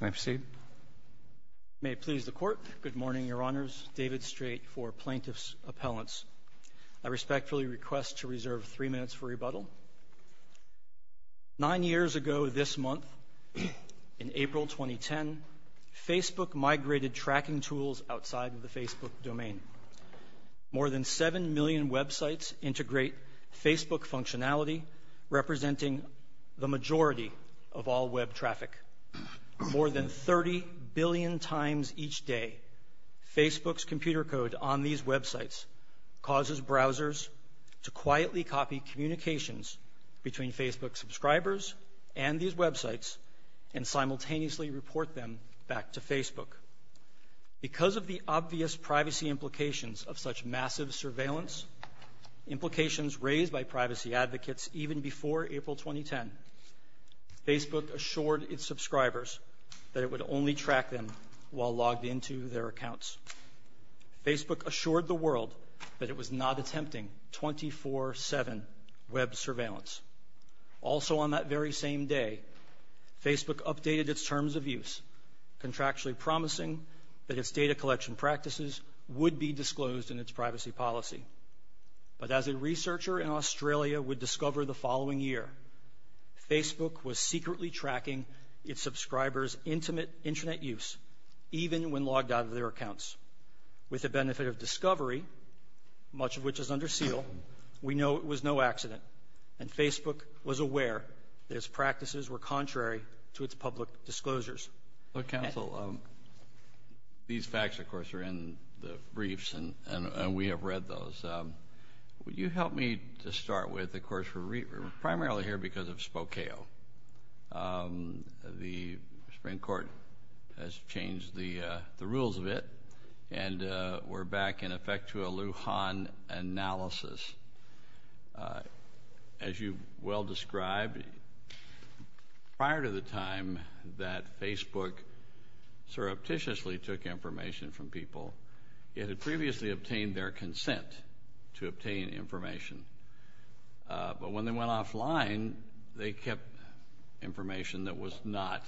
May it please the Court, good morning, Your Honors, David Strait for Plaintiff's Appellants. I respectfully request to reserve three minutes for rebuttal. Nine years ago this month, in April 2010, Facebook migrated tracking tools outside of the Facebook domain. More than 7 million websites integrate Facebook functionality, representing the majority of all web traffic. More than 30 billion times each day, Facebook's computer code on these websites causes browsers to quietly copy communications between Facebook subscribers and these websites Because of the obvious privacy implications of such massive surveillance, implications raised by privacy advocates even before April 2010, Facebook assured its subscribers that it would only track them while logged into their accounts. Facebook assured the world that it was not attempting 24-7 web surveillance. Also on that very same day, Facebook updated its terms of use, contractually promising that its data collection practices would be disclosed in its privacy policy. But as a researcher in Australia would discover the following year, Facebook was secretly tracking its subscribers' intimate internet use, even when logged out of their accounts. With the benefit of discovery, much of which is under seal, we know it was no accident, and Facebook was aware that its practices were contrary to its public disclosures. Look, Counsel, these facts, of course, are in the briefs, and we have read those. Would you help me to start with, of course, we're primarily here because of Spokeo. The Supreme Court has changed the rules of it, and we're back in effect to a Lujan analysis. As you well described, prior to the time that Facebook surreptitiously took information from people, it had previously obtained their consent to obtain information. But when they went offline, they kept information that was not,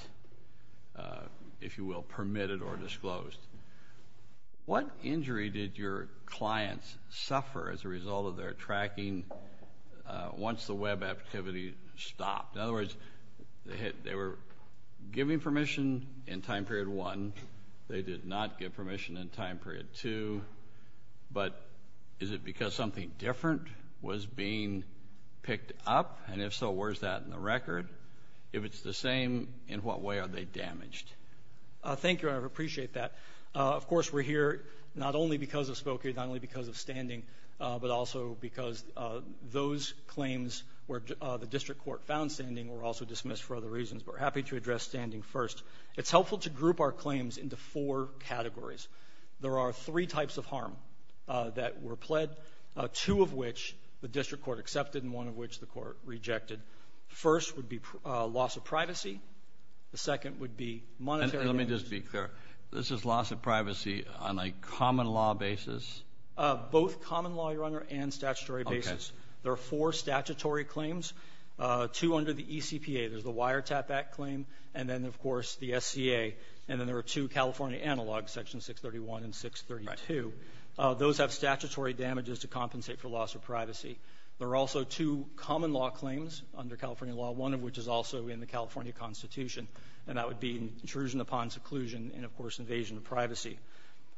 if you will, permitted or disclosed. What injury did your clients suffer as a result of their tracking once the web activity stopped? In other words, they were giving permission in time period one. They did not give permission in time period two. But is it because something different was being picked up? And if so, where is that in the record? If it's the same, in what way are they damaged? Thank you. I appreciate that. Of course, we're here not only because of Spokeo, not only because of standing, but also because those claims where the district court found standing were also dismissed for other reasons. We're happy to address standing first. It's helpful to group our claims into four categories. There are three types of harm that were pled, two of which the district court accepted and one of which the court rejected. First would be loss of privacy. The second would be monetary damages. Let me just be clear. This is loss of privacy on a common law basis? Both common law, Your Honor, and statutory basis. Okay. There are four statutory claims, two under the ECPA. There's the Wiretap Act claim and then, of course, the SCA. And then there are two California analogs, Section 631 and 632. Those have statutory damages to compensate for loss of privacy. There are also two common law claims under California law, one of which is also in the California Constitution, and that would be intrusion upon seclusion and, of course, invasion of privacy.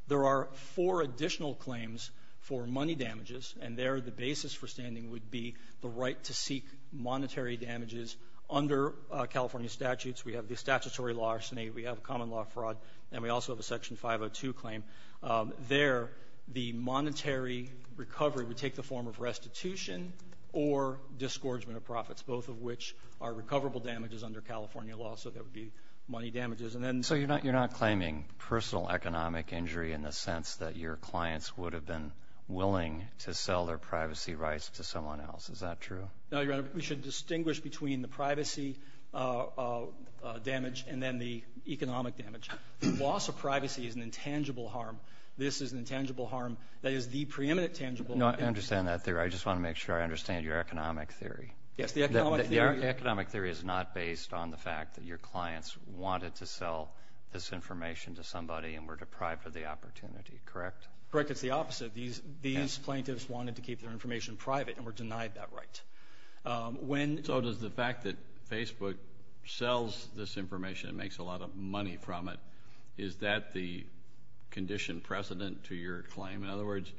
There are four additional claims for money damages, and there the basis for standing would be the right to seek monetary damages under California statutes. We have the statutory larceny. We have common law fraud, and we also have a Section 502 claim. There the monetary recovery would take the form of restitution or disgorgement of profits, both of which are recoverable damages under California law, so there would be money damages. So you're not claiming personal economic injury in the sense that your clients would have been willing to sell their privacy rights to someone else. Is that true? No, Your Honor. We should distinguish between the privacy damage and then the economic damage. Loss of privacy is an intangible harm. This is an intangible harm that is the preeminent tangible. No, I understand that theory. I just want to make sure I understand your economic theory. Yes, the economic theory. The economic theory is not based on the fact that your clients wanted to sell this information to somebody and were deprived of the opportunity, correct? Correct. It's the opposite. These plaintiffs wanted to keep their information private and were denied that right. So does the fact that Facebook sells this information and makes a lot of money from it, is that the condition precedent to your claim? In other words,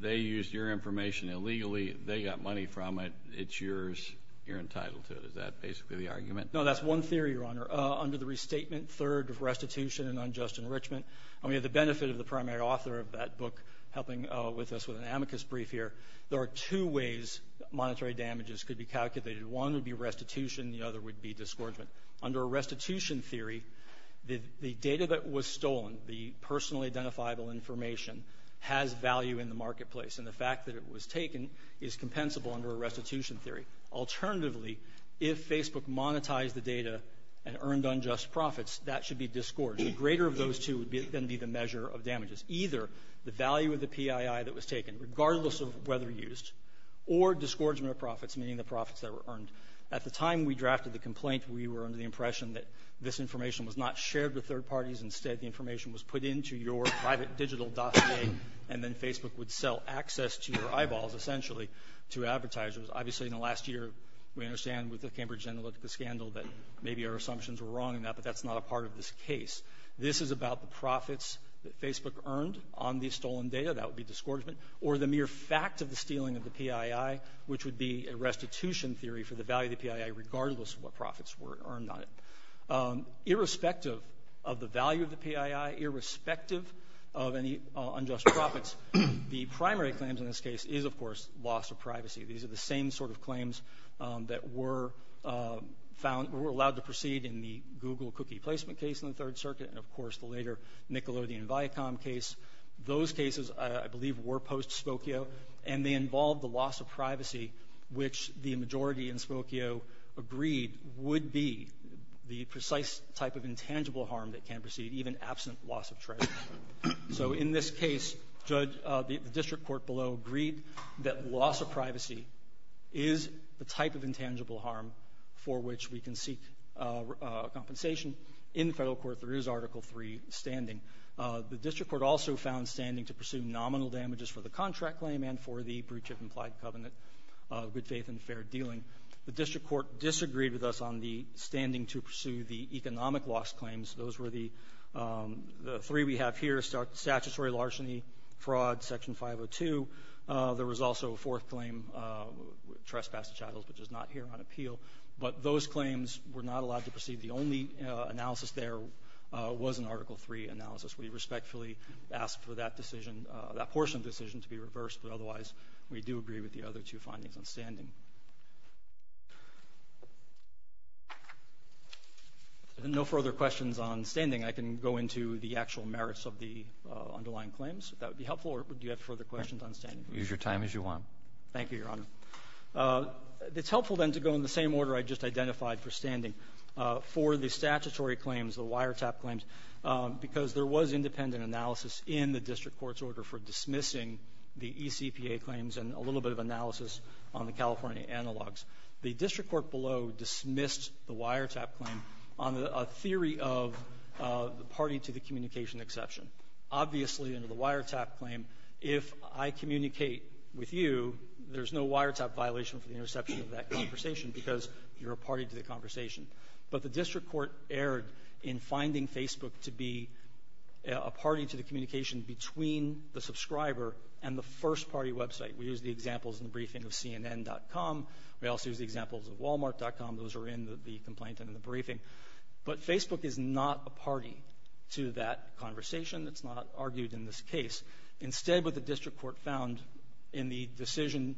they used your information illegally. They got money from it. It's yours. You're entitled to it. Is that basically the argument? No, that's one theory, Your Honor. Under the restatement, third restitution and unjust enrichment, and we have the benefit of the primary author of that book helping with us with an amicus brief here, there are two ways monetary damages could be calculated. One would be restitution. The other would be disgorgement. Under a restitution theory, the data that was stolen, the personally identifiable information, has value in the marketplace, and the fact that it was taken is compensable under a restitution theory. Alternatively, if Facebook monetized the data and earned unjust profits, that should be disgorge. The greater of those two would then be the measure of damages, either the value of the PII that was taken, regardless of whether used, or disgorgement of profits, meaning the profits that were earned. At the time we drafted the complaint, we were under the impression that this information was not shared with third parties. Instead, the information was put into your private digital dossier, and then Facebook would sell access to your eyeballs, essentially, to advertisers. Obviously, in the last year, we understand with the Cambridge Analytica scandal that maybe our assumptions were wrong in that, but that's not a part of this case. This is about the profits that Facebook earned on the stolen data, that would be disgorgement, or the mere fact of the stealing of the PII, which would be a restitution theory for the value of the PII, regardless of what profits were earned on it. Irrespective of the value of the PII, irrespective of any unjust profits, the primary claims in this case is, of course, loss of privacy. These are the same sort of claims that were allowed to proceed in the Google cookie placement case in the Third Circuit, and, of course, the later Nickelodeon Viacom case. Those cases, I believe, were post-Spokio, and they involved the loss of privacy, which the majority in Spokio agreed would be the precise type of intangible harm that can proceed, even absent loss of treasure. So in this case, the district court below agreed that loss of privacy is the type of intangible harm for which we can seek compensation. In the federal court, there is Article III standing. The district court also found standing to pursue nominal damages for the contract claim and for the breach of implied covenant of good faith and fair dealing. The district court disagreed with us on the standing to pursue the economic loss claims. Those were the three we have here, statutory larceny, fraud, Section 502. There was also a fourth claim, trespass to chattels, which is not here on appeal. But those claims were not allowed to proceed. The only analysis there was an Article III analysis. We respectfully ask for that portion of the decision to be reversed, but otherwise we do agree with the other two findings on standing. And no further questions on standing. I can go into the actual merits of the underlying claims, if that would be helpful, or do you have further questions on standing? Use your time as you want. Thank you, Your Honor. It's helpful, then, to go in the same order I just identified for standing, for the statutory claims, the wiretap claims, because there was independent analysis in the district court's order for dismissing the ECPA claims and a little bit of analysis on the California analogs. The district court below dismissed the wiretap claim on a theory of the party to the communication exception. Obviously, under the wiretap claim, if I communicate with you, there's no wiretap violation for the interception of that conversation because you're a party to the conversation. But the district court erred in finding Facebook to be a party to the communication between the subscriber and the first-party website. We use the examples in the briefing of CNN.com. We also use the examples of Walmart.com. Those are in the complaint and in the briefing. But Facebook is not a party to that conversation. It's not argued in this case. Instead, what the district court found in the decision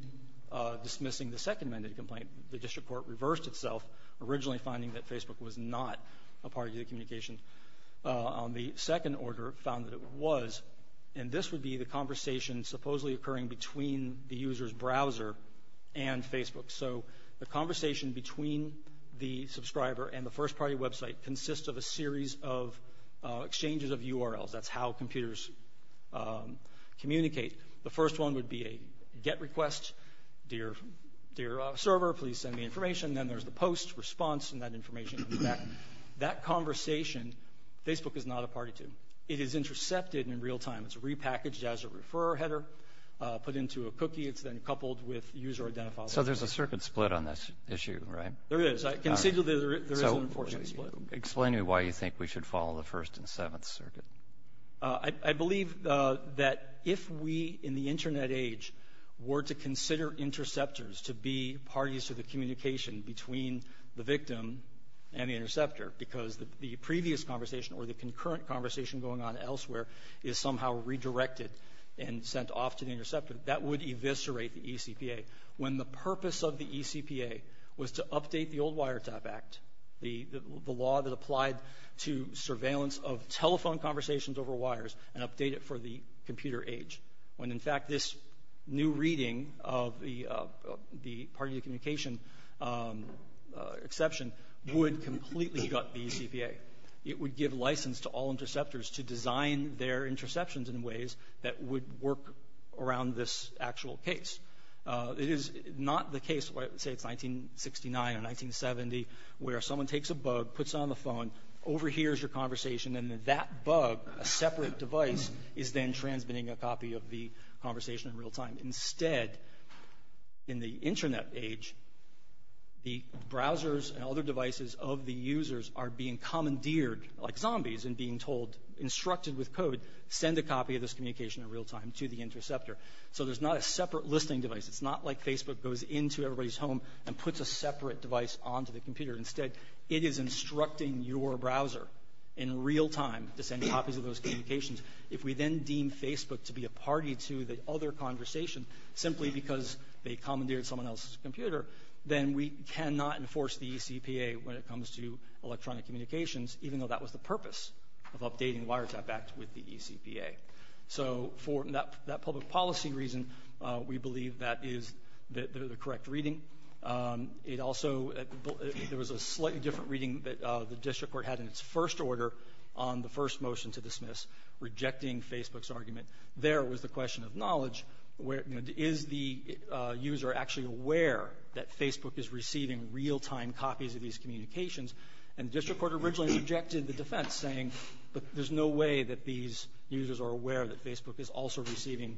dismissing the Second Amendment complaint, the district court reversed itself, originally finding that Facebook was not a party to the communication. The second order found that it was. And this would be the conversation supposedly occurring between the user's browser and Facebook. So the conversation between the subscriber and the first-party website consists of a series of exchanges of URLs. That's how computers communicate. The first one would be a get request, dear server, please send me information. Then there's the post response, and that information comes back. That conversation, Facebook is not a party to. It is intercepted in real time. It's repackaged as a referrer header, put into a cookie. It's then coupled with user identifiable. So there's a circuit split on this issue, right? There is. I can say that there is an unfortunate split. So explain to me why you think we should follow the First and Seventh Circuit. I believe that if we, in the Internet age, were to consider interceptors to be parties to the communication between the victim and the interceptor, because the previous conversation or the concurrent conversation going on elsewhere is somehow redirected and sent off to the interceptor, that would eviscerate the eCPA. When the purpose of the eCPA was to update the old Wiretap Act, the law that applied to surveillance of telephone conversations over wires and update it for the computer age. When, in fact, this new reading of the party to communication exception would completely gut the eCPA. It would give license to all interceptors to design their interceptions in ways that would work around this actual case. It is not the case, say it's 1969 or 1970, where someone takes a bug, puts it on the phone, overhears your conversation, and then that bug, a separate device, is then transmitting a copy of the conversation in real time. Instead, in the Internet age, the browsers and other devices of the users are being commandeered like zombies and being told, instructed with code, send a copy of this communication in real time to the interceptor. So there's not a separate listening device. It's not like Facebook goes into everybody's home and puts a separate device onto the computer. Instead, it is instructing your browser in real time to send copies of those communications. If we then deem Facebook to be a party to the other conversation simply because they commandeered someone else's computer, then we cannot enforce the eCPA when it comes to electronic communications, even though that was the purpose of updating the Wiretap Act with the eCPA. So for that public policy reason, we believe that is the correct reading. It also, there was a slightly different reading that the district court had in its first order on the first motion to dismiss, rejecting Facebook's argument. There was the question of knowledge. Is the user actually aware that Facebook is receiving real-time copies of these communications? And the district court originally objected to the defense saying, but there's no way that these users are aware that Facebook is also receiving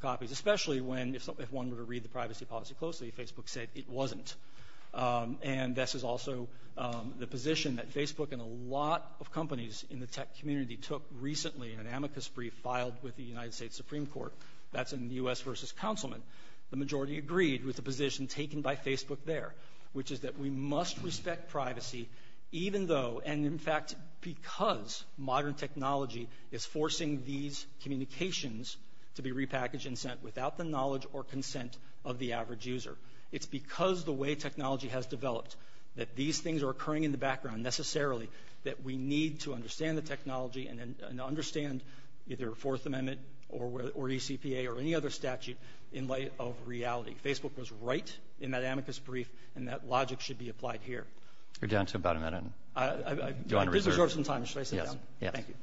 copies, especially when if one were to read the privacy policy closely, Facebook said it wasn't. And this is also the position that Facebook and a lot of companies in the tech community took recently in an amicus brief filed with the United States Supreme Court. That's in the U.S. versus Councilman. The majority agreed with the position taken by Facebook there, which is that we must respect privacy even though and, in fact, because modern technology is forcing these communications to be repackaged and sent without the knowledge or consent of the average user. It's because the way technology has developed that these things are occurring in the background necessarily that we need to understand the technology and understand either Fourth Amendment or eCPA or any other statute in light of reality. Facebook was right in that amicus brief, and that logic should be applied here. You're down to about a minute. I did reserve some time. Should I sit down? Yes. Thank you.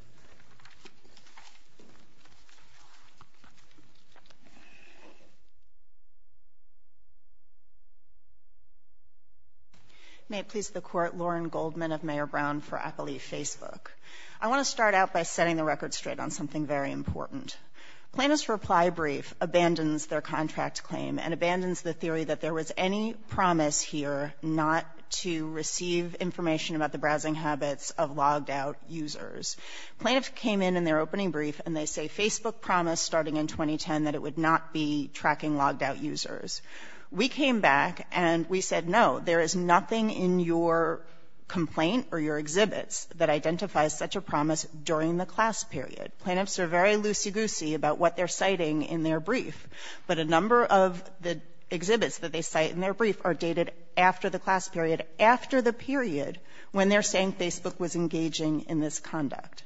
May it please the Court, Lauren Goldman of Mayor Brown for Appleby Facebook. I want to start out by setting the record straight on something very important. Plaintiff's reply brief abandons their contract claim and abandons the theory that there was any promise here not to receive information about the browsing habits of logged-out users. Plaintiffs came in in their opening brief, and they say Facebook promised starting in 2010 that it would not be tracking logged-out users. We came back, and we said, no, there is nothing in your complaint or your exhibits that identifies such a promise during the class period. Plaintiffs are very loosey-goosey about what they're citing in their brief, but a number of the exhibits that they cite in their brief are dated after the class period, after the period when they're saying Facebook was engaging in this conduct.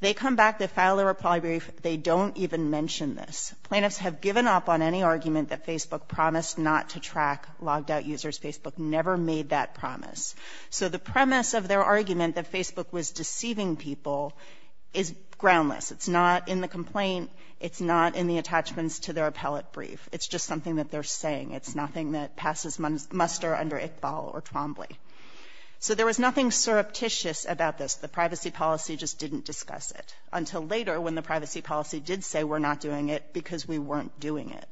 They come back, they file their reply brief, they don't even mention this. Plaintiffs have given up on any argument that Facebook promised not to track logged-out users. Facebook never made that promise. So the premise of their argument that Facebook was deceiving people is groundless. It's not in the complaint. It's not in the attachments to their appellate brief. It's just something that they're saying. It's nothing that passes muster under Iqbal or Trombley. So there was nothing surreptitious about this. The privacy policy just didn't discuss it until later when the privacy policy did say we're not doing it because we weren't doing it.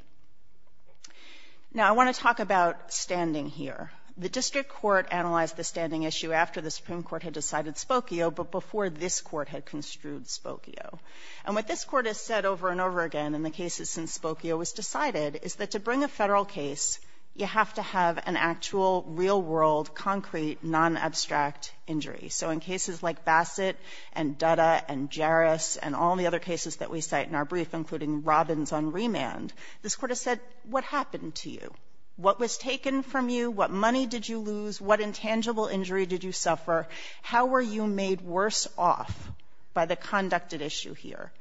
Now, I want to talk about standing here. The district court analyzed the standing issue after the Supreme Court had decided Spokio, but before this Court had construed Spokio. And what this Court has said over and over again in the cases since Spokio was decided is that to bring a federal case, you have to have an actual, real-world, concrete, non-abstract injury. So in cases like Bassett and Dutta and Jarrus and all the other cases that we cite in our brief, including Robbins on remand, this Court has said what happened to you? What was taken from you? What money did you lose? What intangible injury did you suffer? How were you made worse off by the conducted issue here?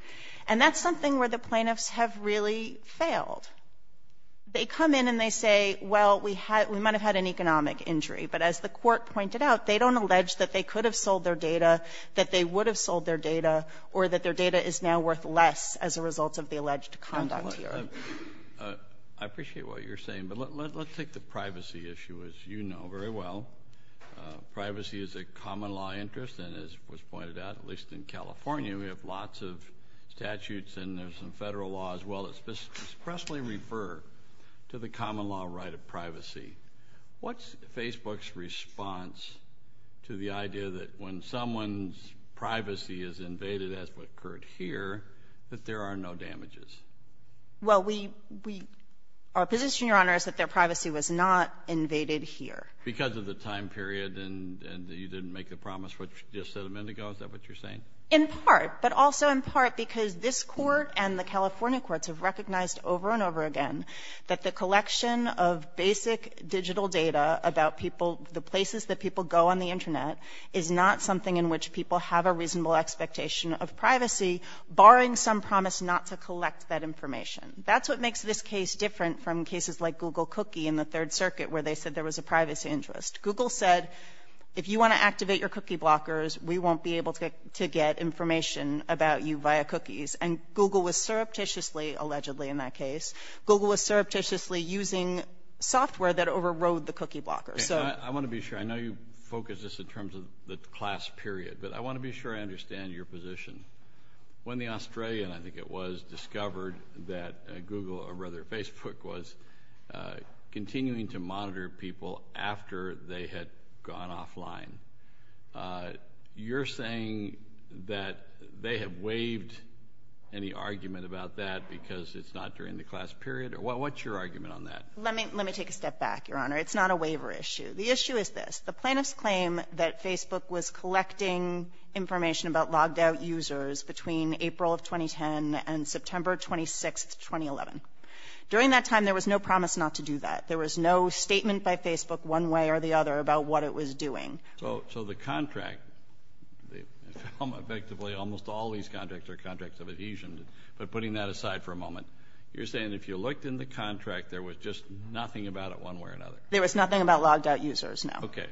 And that's something where the plaintiffs have really failed. They come in and they say, well, we might have had an economic injury. But as the Court pointed out, they don't allege that they could have sold their data, that they would have sold their data, or that their data is now worth less as a result of the alleged conduct here. Kennedy, I appreciate what you're saying, but let's take the privacy issue, as you know very well. Privacy is a common-law interest, and as was pointed out, at least in California, we have lots of statutes and there's some federal law as well that expressly refer to the common-law right of privacy. What's Facebook's response to the idea that when someone's privacy is invaded, as what occurred here, that there are no damages? Well, our position, Your Honor, is that their privacy was not invaded here. Because of the time period and you didn't make the promise, which you just said a minute ago, is that what you're saying? In part. But also in part because this Court and the California courts have recognized over and over again that the collection of basic digital data about people, the places that people go on the Internet, is not something in which people have a reasonable expectation of privacy, barring some promise not to collect that information. That's what makes this case different from cases like Google Cookie in the Third Place interest. Google said, if you want to activate your cookie blockers, we won't be able to get information about you via cookies. And Google was surreptitiously, allegedly in that case, Google was surreptitiously using software that overrode the cookie blockers. I want to be sure. I know you focused this in terms of the class period, but I want to be sure I understand your position. When the Australian, I think it was, discovered that Google, or rather Facebook, was continuing to monitor people after they had gone offline, you're saying that they have waived any argument about that because it's not during the class period? What's your argument on that? Let me take a step back, Your Honor. It's not a waiver issue. The issue is this. The plaintiffs claim that Facebook was collecting information about logged out users between April of 2010 and September 26, 2011. During that time, there was no promise not to do that. There was no statement by Facebook one way or the other about what it was doing. So the contract, effectively almost all these contracts are contracts of adhesion. But putting that aside for a moment, you're saying if you looked in the contract, there was just nothing about it one way or another? There was nothing about logged out users, no. Okay.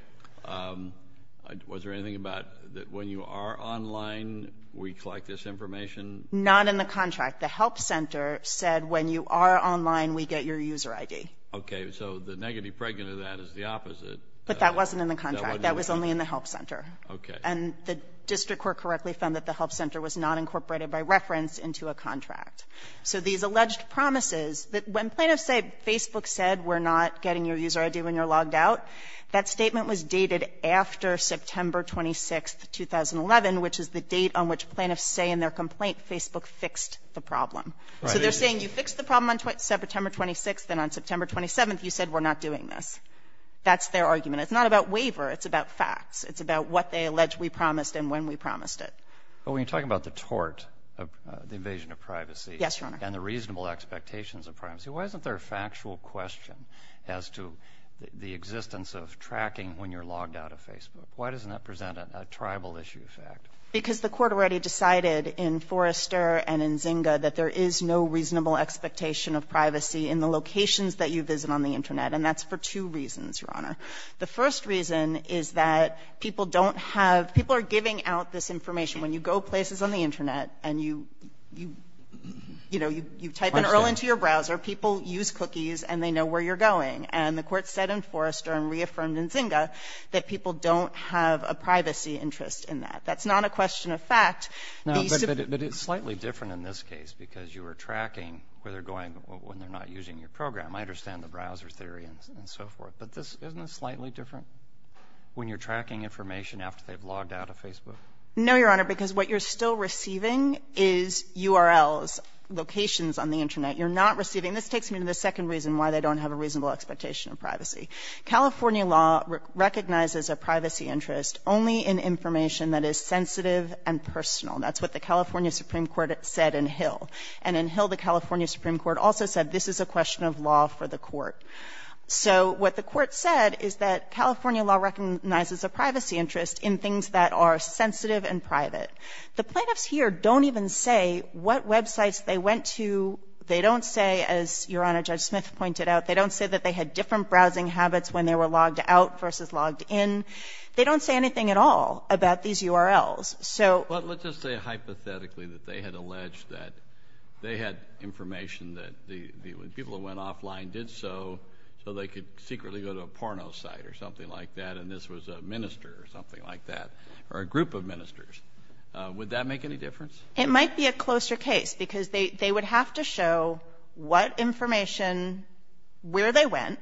Was there anything about when you are online, we collect this information? Not in the contract. The help center said when you are online, we get your user ID. Okay. So the negative pregnant of that is the opposite. But that wasn't in the contract. That was only in the help center. Okay. And the district court correctly found that the help center was not incorporated by reference into a contract. So these alleged promises that when plaintiffs say Facebook said we're not getting your user ID when you're logged out, that statement was dated after September 26, 2011, which is the date on which plaintiffs say in their complaint Facebook fixed the problem. So they're saying you fixed the problem on September 26th, and on September 27th you said we're not doing this. That's their argument. It's not about waiver. It's about facts. It's about what they allege we promised and when we promised it. But when you're talking about the tort, the invasion of privacy. Yes, Your Honor. And the reasonable expectations of privacy, why isn't there a factual question as to the existence of tracking when you're logged out of Facebook? Why doesn't that present a tribal issue effect? Because the Court already decided in Forrester and in Zynga that there is no reasonable expectation of privacy in the locations that you visit on the Internet, and that's for two reasons, Your Honor. The first reason is that people don't have – people are giving out this information. When you go places on the Internet and you, you know, you type an URL into your browser, people use cookies and they know where you're going. And the Court said in Forrester and reaffirmed in Zynga that people don't have a privacy interest in that. That's not a question of fact. Now, but it's slightly different in this case because you are tracking where they're going when they're not using your program. I understand the browser theory and so forth, but this – isn't this slightly different when you're tracking information after they've logged out of Facebook? No, Your Honor, because what you're still receiving is URLs, locations on the Internet. You're not receiving – this takes me to the second reason why they don't have a reasonable expectation of privacy. California law recognizes a privacy interest only in information that is sensitive and personal. That's what the California Supreme Court said in Hill. And in Hill, the California Supreme Court also said this is a question of law for the Court. So what the Court said is that California law recognizes a privacy interest in things that are sensitive and private. The plaintiffs here don't even say what websites they went to. They don't say, as Your Honor, Judge Smith pointed out, they don't say that they had different browsing habits when they were logged out versus logged in. They don't say anything at all about these URLs. So – But let's just say hypothetically that they had alleged that they had information that the people who went offline did so so they could secretly go to a porno site or something like that and this was a minister or something like that or a group of ministers. Would that make any difference? It might be a closer case because they would have to show what information, where they went,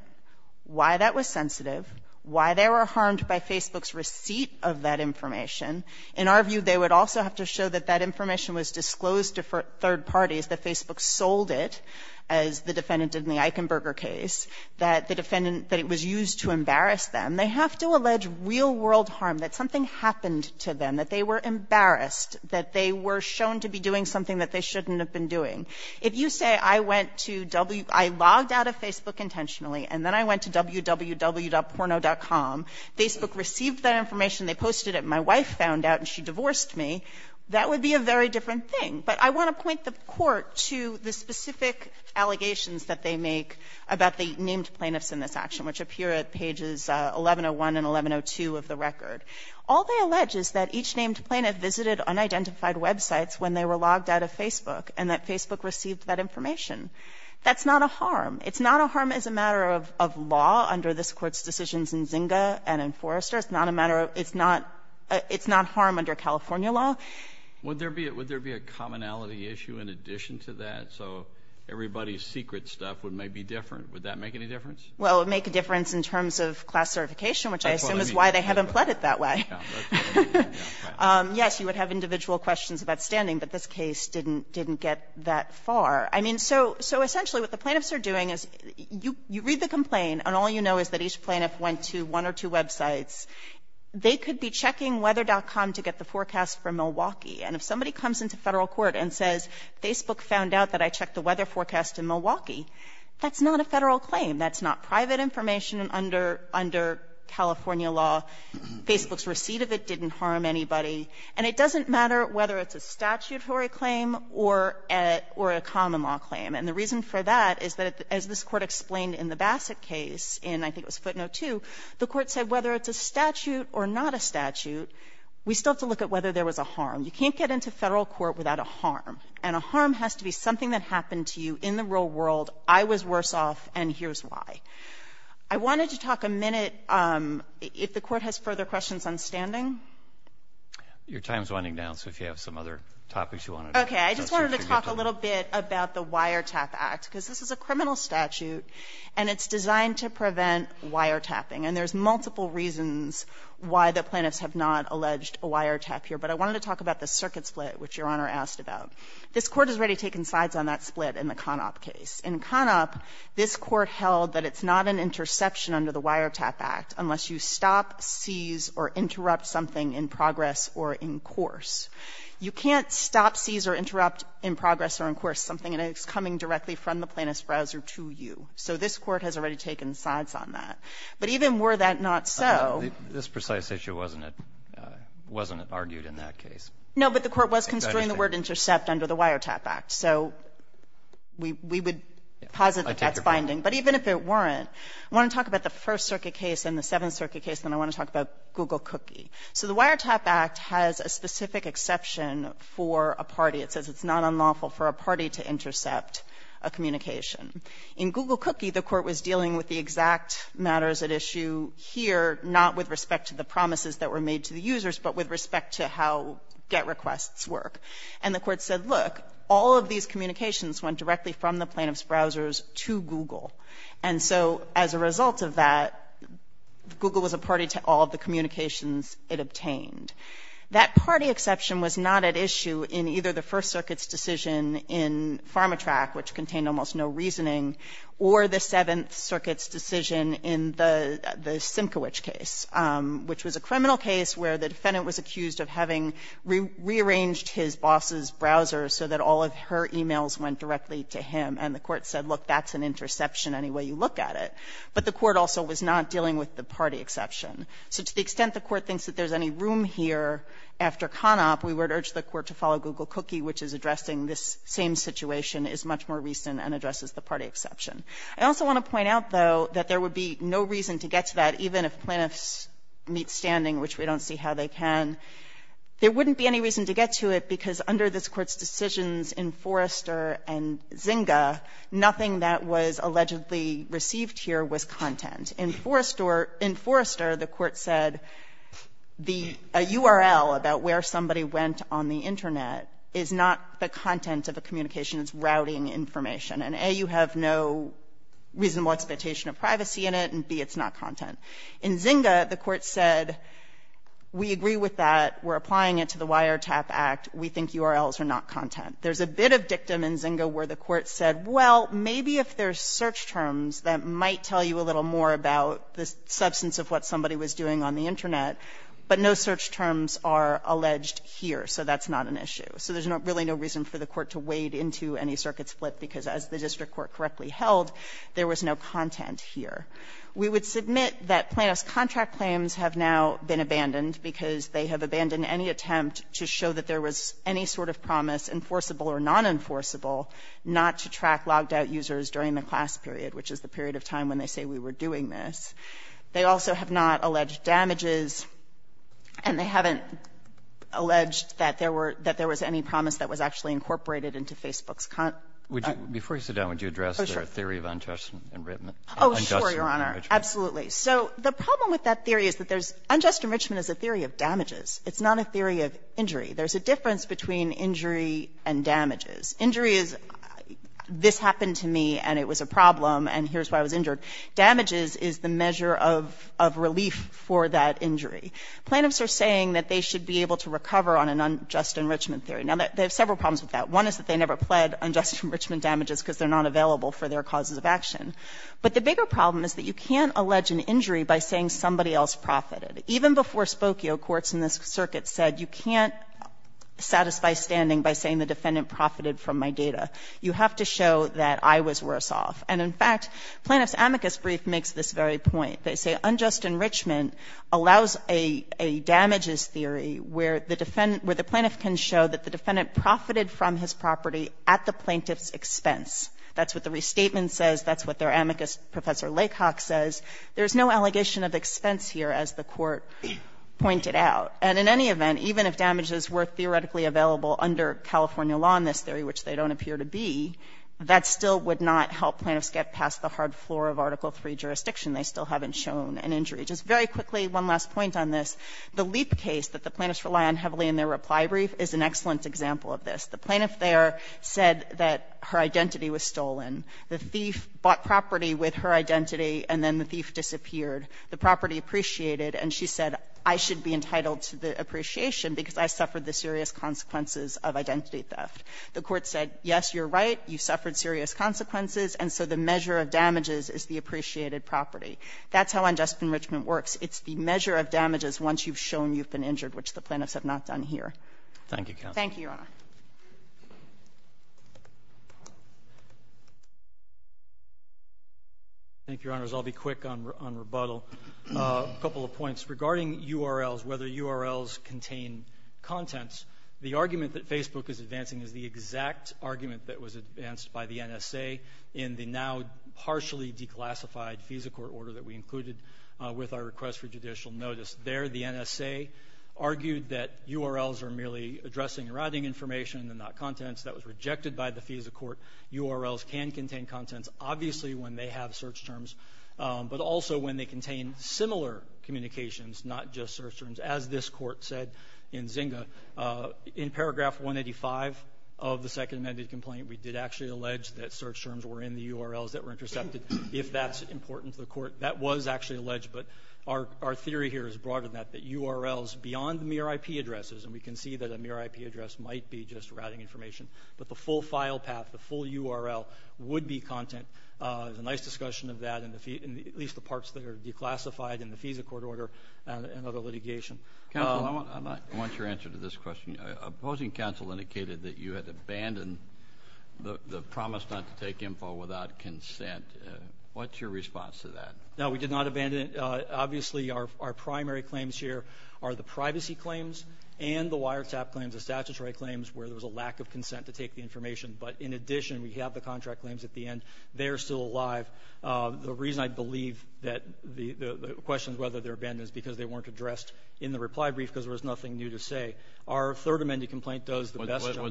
why that was sensitive, why they were harmed by Facebook's receipt of that information. In our view, they would also have to show that that information was disclosed to third parties, that Facebook sold it, as the defendant did in the Eichenberger case, that the defendant – that it was used to embarrass them. They have to allege real-world harm, that something happened to them, that they were embarrassed, that they were shown to be doing something that they shouldn't have been doing. If you say I went to – I logged out of Facebook intentionally and then I went to www.porno.com, Facebook received that information, they posted it, my wife found out and she divorced me, that would be a very different thing. But I want to point the Court to the specific allegations that they make about the named plaintiffs in this action, which appear at pages 1101 and 1102 of the record. All they allege is that each named plaintiff visited unidentified websites when they were logged out of Facebook and that Facebook received that information. That's not a harm. It's not a harm as a matter of law under this Court's decisions in Zinga and in Forrester. It's not a matter of – it's not – it's not harm under California law. Would there be – would there be a commonality issue in addition to that? So everybody's secret stuff would maybe be different. Would that make any difference? Well, it would make a difference in terms of class certification, which I assume is why they haven't put it that way. Yes, you would have individual questions about standing. But this case didn't get that far. I mean, so essentially what the plaintiffs are doing is you read the complaint and all you know is that each plaintiff went to one or two websites. They could be checking weather.com to get the forecast from Milwaukee. And if somebody comes into Federal court and says Facebook found out that I checked the weather forecast in Milwaukee, that's not a Federal claim. That's not private information under California law. Facebook's receipt of it didn't harm anybody. And it doesn't matter whether it's a statutory claim or a common law claim. And the reason for that is that as this Court explained in the Bassett case in, I think it was footnote 2, the Court said whether it's a statute or not a statute, we still have to look at whether there was a harm. You can't get into Federal court without a harm. And a harm has to be something that happened to you in the real world, I was worse off, and here's why. I wanted to talk a minute – if the Court has further questions on standing, Your time's running down, so if you have some other topics you want to address. Okay. I just wanted to talk a little bit about the Wiretap Act, because this is a criminal statute, and it's designed to prevent wiretapping. And there's multiple reasons why the plaintiffs have not alleged a wiretap here. But I wanted to talk about the circuit split, which Your Honor asked about. This Court has already taken sides on that split in the Conop case. In Conop, this Court held that it's not an interception under the Wiretap Act unless you stop, seize, or interrupt something in progress or in course. You can't stop, seize, or interrupt in progress or in course something that is coming directly from the plaintiff's browser to you. So this Court has already taken sides on that. But even were that not so – This precise issue wasn't argued in that case. No, but the Court was considering the word intercept under the Wiretap Act. So we would posit that that's binding. But even if it weren't, I want to talk about the First Circuit case and the Seventh Circuit case, and I want to talk about Google Cookie. So the Wiretap Act has a specific exception for a party. It says it's not unlawful for a party to intercept a communication. In Google Cookie, the Court was dealing with the exact matters at issue here, not with respect to the promises that were made to the users, but with respect to how GET requests work. And the Court said, look, all of these communications went directly from the plaintiff's browsers to Google. And so as a result of that, Google was a party to all of the communications it obtained. That party exception was not at issue in either the First Circuit's decision in PharmaTrack, which contained almost no reasoning, or the Seventh Circuit's decision in the Simkowich case, which was a criminal case where the defendant was accused of having rearranged his boss's browser so that all of her emails went directly to him. And the Court said, look, that's an interception any way you look at it. But the Court also was not dealing with the party exception. So to the extent the Court thinks that there's any room here after CONOP, we would urge the Court to follow Google Cookie, which is addressing this same situation, is much more recent, and addresses the party exception. I also want to point out, though, that there would be no reason to get to that, even if plaintiffs meet standing, which we don't see how they can. There wouldn't be any reason to get to it, because under this Court's decisions in Forrester and Zynga, nothing that was allegedly received here was content. In Forrester, the Court said the URL about where somebody went on the Internet is not the content of a communication. It's routing information. And, A, you have no reasonable expectation of privacy in it, and, B, it's not content. In Zynga, the Court said, we agree with that. We're applying it to the Wiretap Act. We think URLs are not content. There's a bit of dictum in Zynga where the Court said, well, maybe if there's search terms, that might tell you a little more about the substance of what somebody was doing on the Internet, but no search terms are alleged here. So that's not an issue. So there's really no reason for the Court to wade into any circuit split, because as the district court correctly held, there was no content here. We would submit that plaintiffs' contract claims have now been abandoned, because they have abandoned any attempt to show that there was any sort of promise, enforceable or non-enforceable, not to track logged-out users during the class period, which is the period of time when they say we were doing this. They also have not alleged damages, and they haven't alleged that there were — that there was any promise that was actually incorporated into Facebook's content. Roberts. Before you sit down, would you address the theory of unjust enrichment? Oh, sure, Your Honor. Absolutely. So the problem with that theory is that there's — unjust enrichment is a theory of damages. It's not a theory of injury. There's a difference between injury and damages. Injury is this happened to me, and it was a problem, and here's why I was injured. Damages is the measure of relief for that injury. Plaintiffs are saying that they should be able to recover on an unjust enrichment theory. Now, they have several problems with that. One is that they never pled unjust enrichment damages because they're not available for their causes of action. But the bigger problem is that you can't allege an injury by saying somebody else profited. Even before Spokio, courts in this circuit said you can't satisfy standing by saying the defendant profited from my data. You have to show that I was worse off. And in fact, Plaintiff's amicus brief makes this very point. They say unjust enrichment allows a damages theory where the defendant — where the plaintiff can show that the defendant profited from his property at the plaintiff's expense. That's what the restatement says. That's what their amicus Professor Lakehawk says. There's no allegation of expense here, as the Court pointed out. And in any event, even if damages were theoretically available under California law in this theory, which they don't appear to be, that still would not help plaintiffs get past the hard floor of Article III jurisdiction. They still haven't shown an injury. Just very quickly, one last point on this. The Leap case that the plaintiffs rely on heavily in their reply brief is an excellent example of this. The plaintiff there said that her identity was stolen. The thief bought property with her identity, and then the thief disappeared. The property appreciated, and she said, I should be entitled to the appreciation because I suffered the serious consequences of identity theft. The Court said, yes, you're right. You suffered serious consequences, and so the measure of damages is the appreciated property. That's how unjust enrichment works. It's the measure of damages once you've shown you've been injured, which the plaintiffs have not done here. Thank you, Counsel. Thank you, Your Honor. Thank you, Your Honors. I'll be quick on rebuttal. A couple of points. Regarding URLs, whether URLs contain contents, the argument that Facebook is advancing is the exact argument that was advanced by the NSA in the now partially declassified FISA Court order that we included with our request for judicial notice. There, the NSA argued that URLs are merely addressing writing information and not contents. That was rejected by the FISA Court. URLs can contain contents, obviously, when they have search terms, but also when they contain similar communications, not just search terms, as this Court said in Zynga. In paragraph 185 of the Second Amended Complaint, we did actually allege that search terms were in the URLs that were intercepted, if that's important to the Court. That was actually alleged, but our theory here is broader than that, that URLs beyond the mere IP addresses, and we can see that a mere IP address might be just routing information, but the full file path, the full URL, would be content. There's a nice discussion of that in at least the parts that are declassified in the FISA Court order and other litigation. Counsel, I want your answer to this question. Opposing counsel indicated that you had abandoned the promise not to take info without consent. What's your response to that? No, we did not abandon it. Obviously, our primary claims here are the privacy claims and the wiretap claims, the lack of consent to take the information. But in addition, we have the contract claims at the end. They are still alive. The reason I believe that the question is whether they're abandoned is because they weren't addressed in the reply brief because there was nothing new to say. Our Third Amended Complaint does the best job.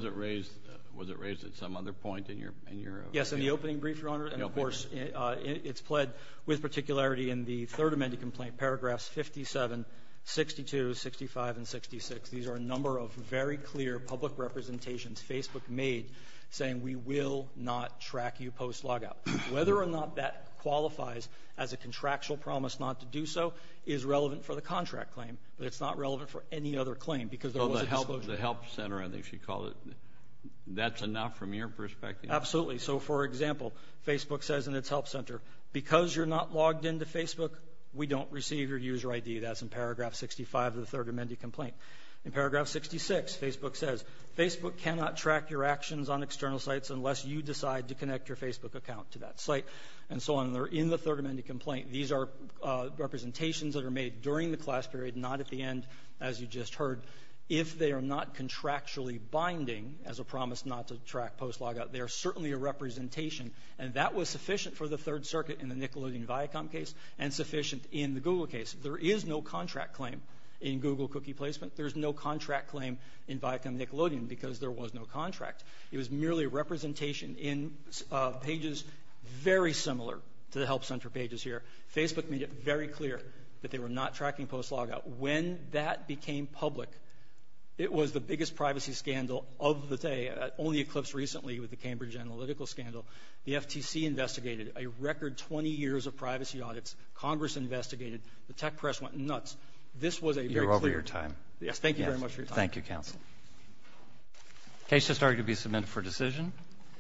Was it raised at some other point in your opening? Yes, in the opening brief, Your Honor. And of course, it's pled with particularity in the Third Amended Complaint, paragraphs 57, 62, 65, and 66. These are a number of very clear public representations Facebook made saying we will not track you post-logout. Whether or not that qualifies as a contractual promise not to do so is relevant for the contract claim. But it's not relevant for any other claim because there wasn't... Oh, the Help Center, I think she called it. That's enough from your perspective? Absolutely. So, for example, Facebook says in its Help Center, because you're not logged into Facebook, we don't receive your user ID. That's in paragraph 65 of the Third Amended Complaint. In paragraph 66, Facebook says Facebook cannot track your actions on external sites unless you decide to connect your Facebook account to that site, and so on. They're in the Third Amended Complaint. These are representations that are made during the class period, not at the end, as you just heard. If they are not contractually binding as a promise not to track post-logout, they are certainly a representation. And that was sufficient for the Third Circuit in the Nickelodeon Viacom case and sufficient in the Google case. There is no contract claim in Google cookie placement. There's no contract claim in Viacom Nickelodeon because there was no contract. It was merely a representation in pages very similar to the Help Center pages here. Facebook made it very clear that they were not tracking post-logout. When that became public, it was the biggest privacy scandal of the day. It only eclipsed recently with the Cambridge Analytical scandal. The FTC investigated a record 20 years of privacy audits. Congress investigated. The tech press went nuts. This was a very clear time. You're over your time. Yes. Thank you very much for your time. Thank you, counsel. The case has started to be submitted for decision.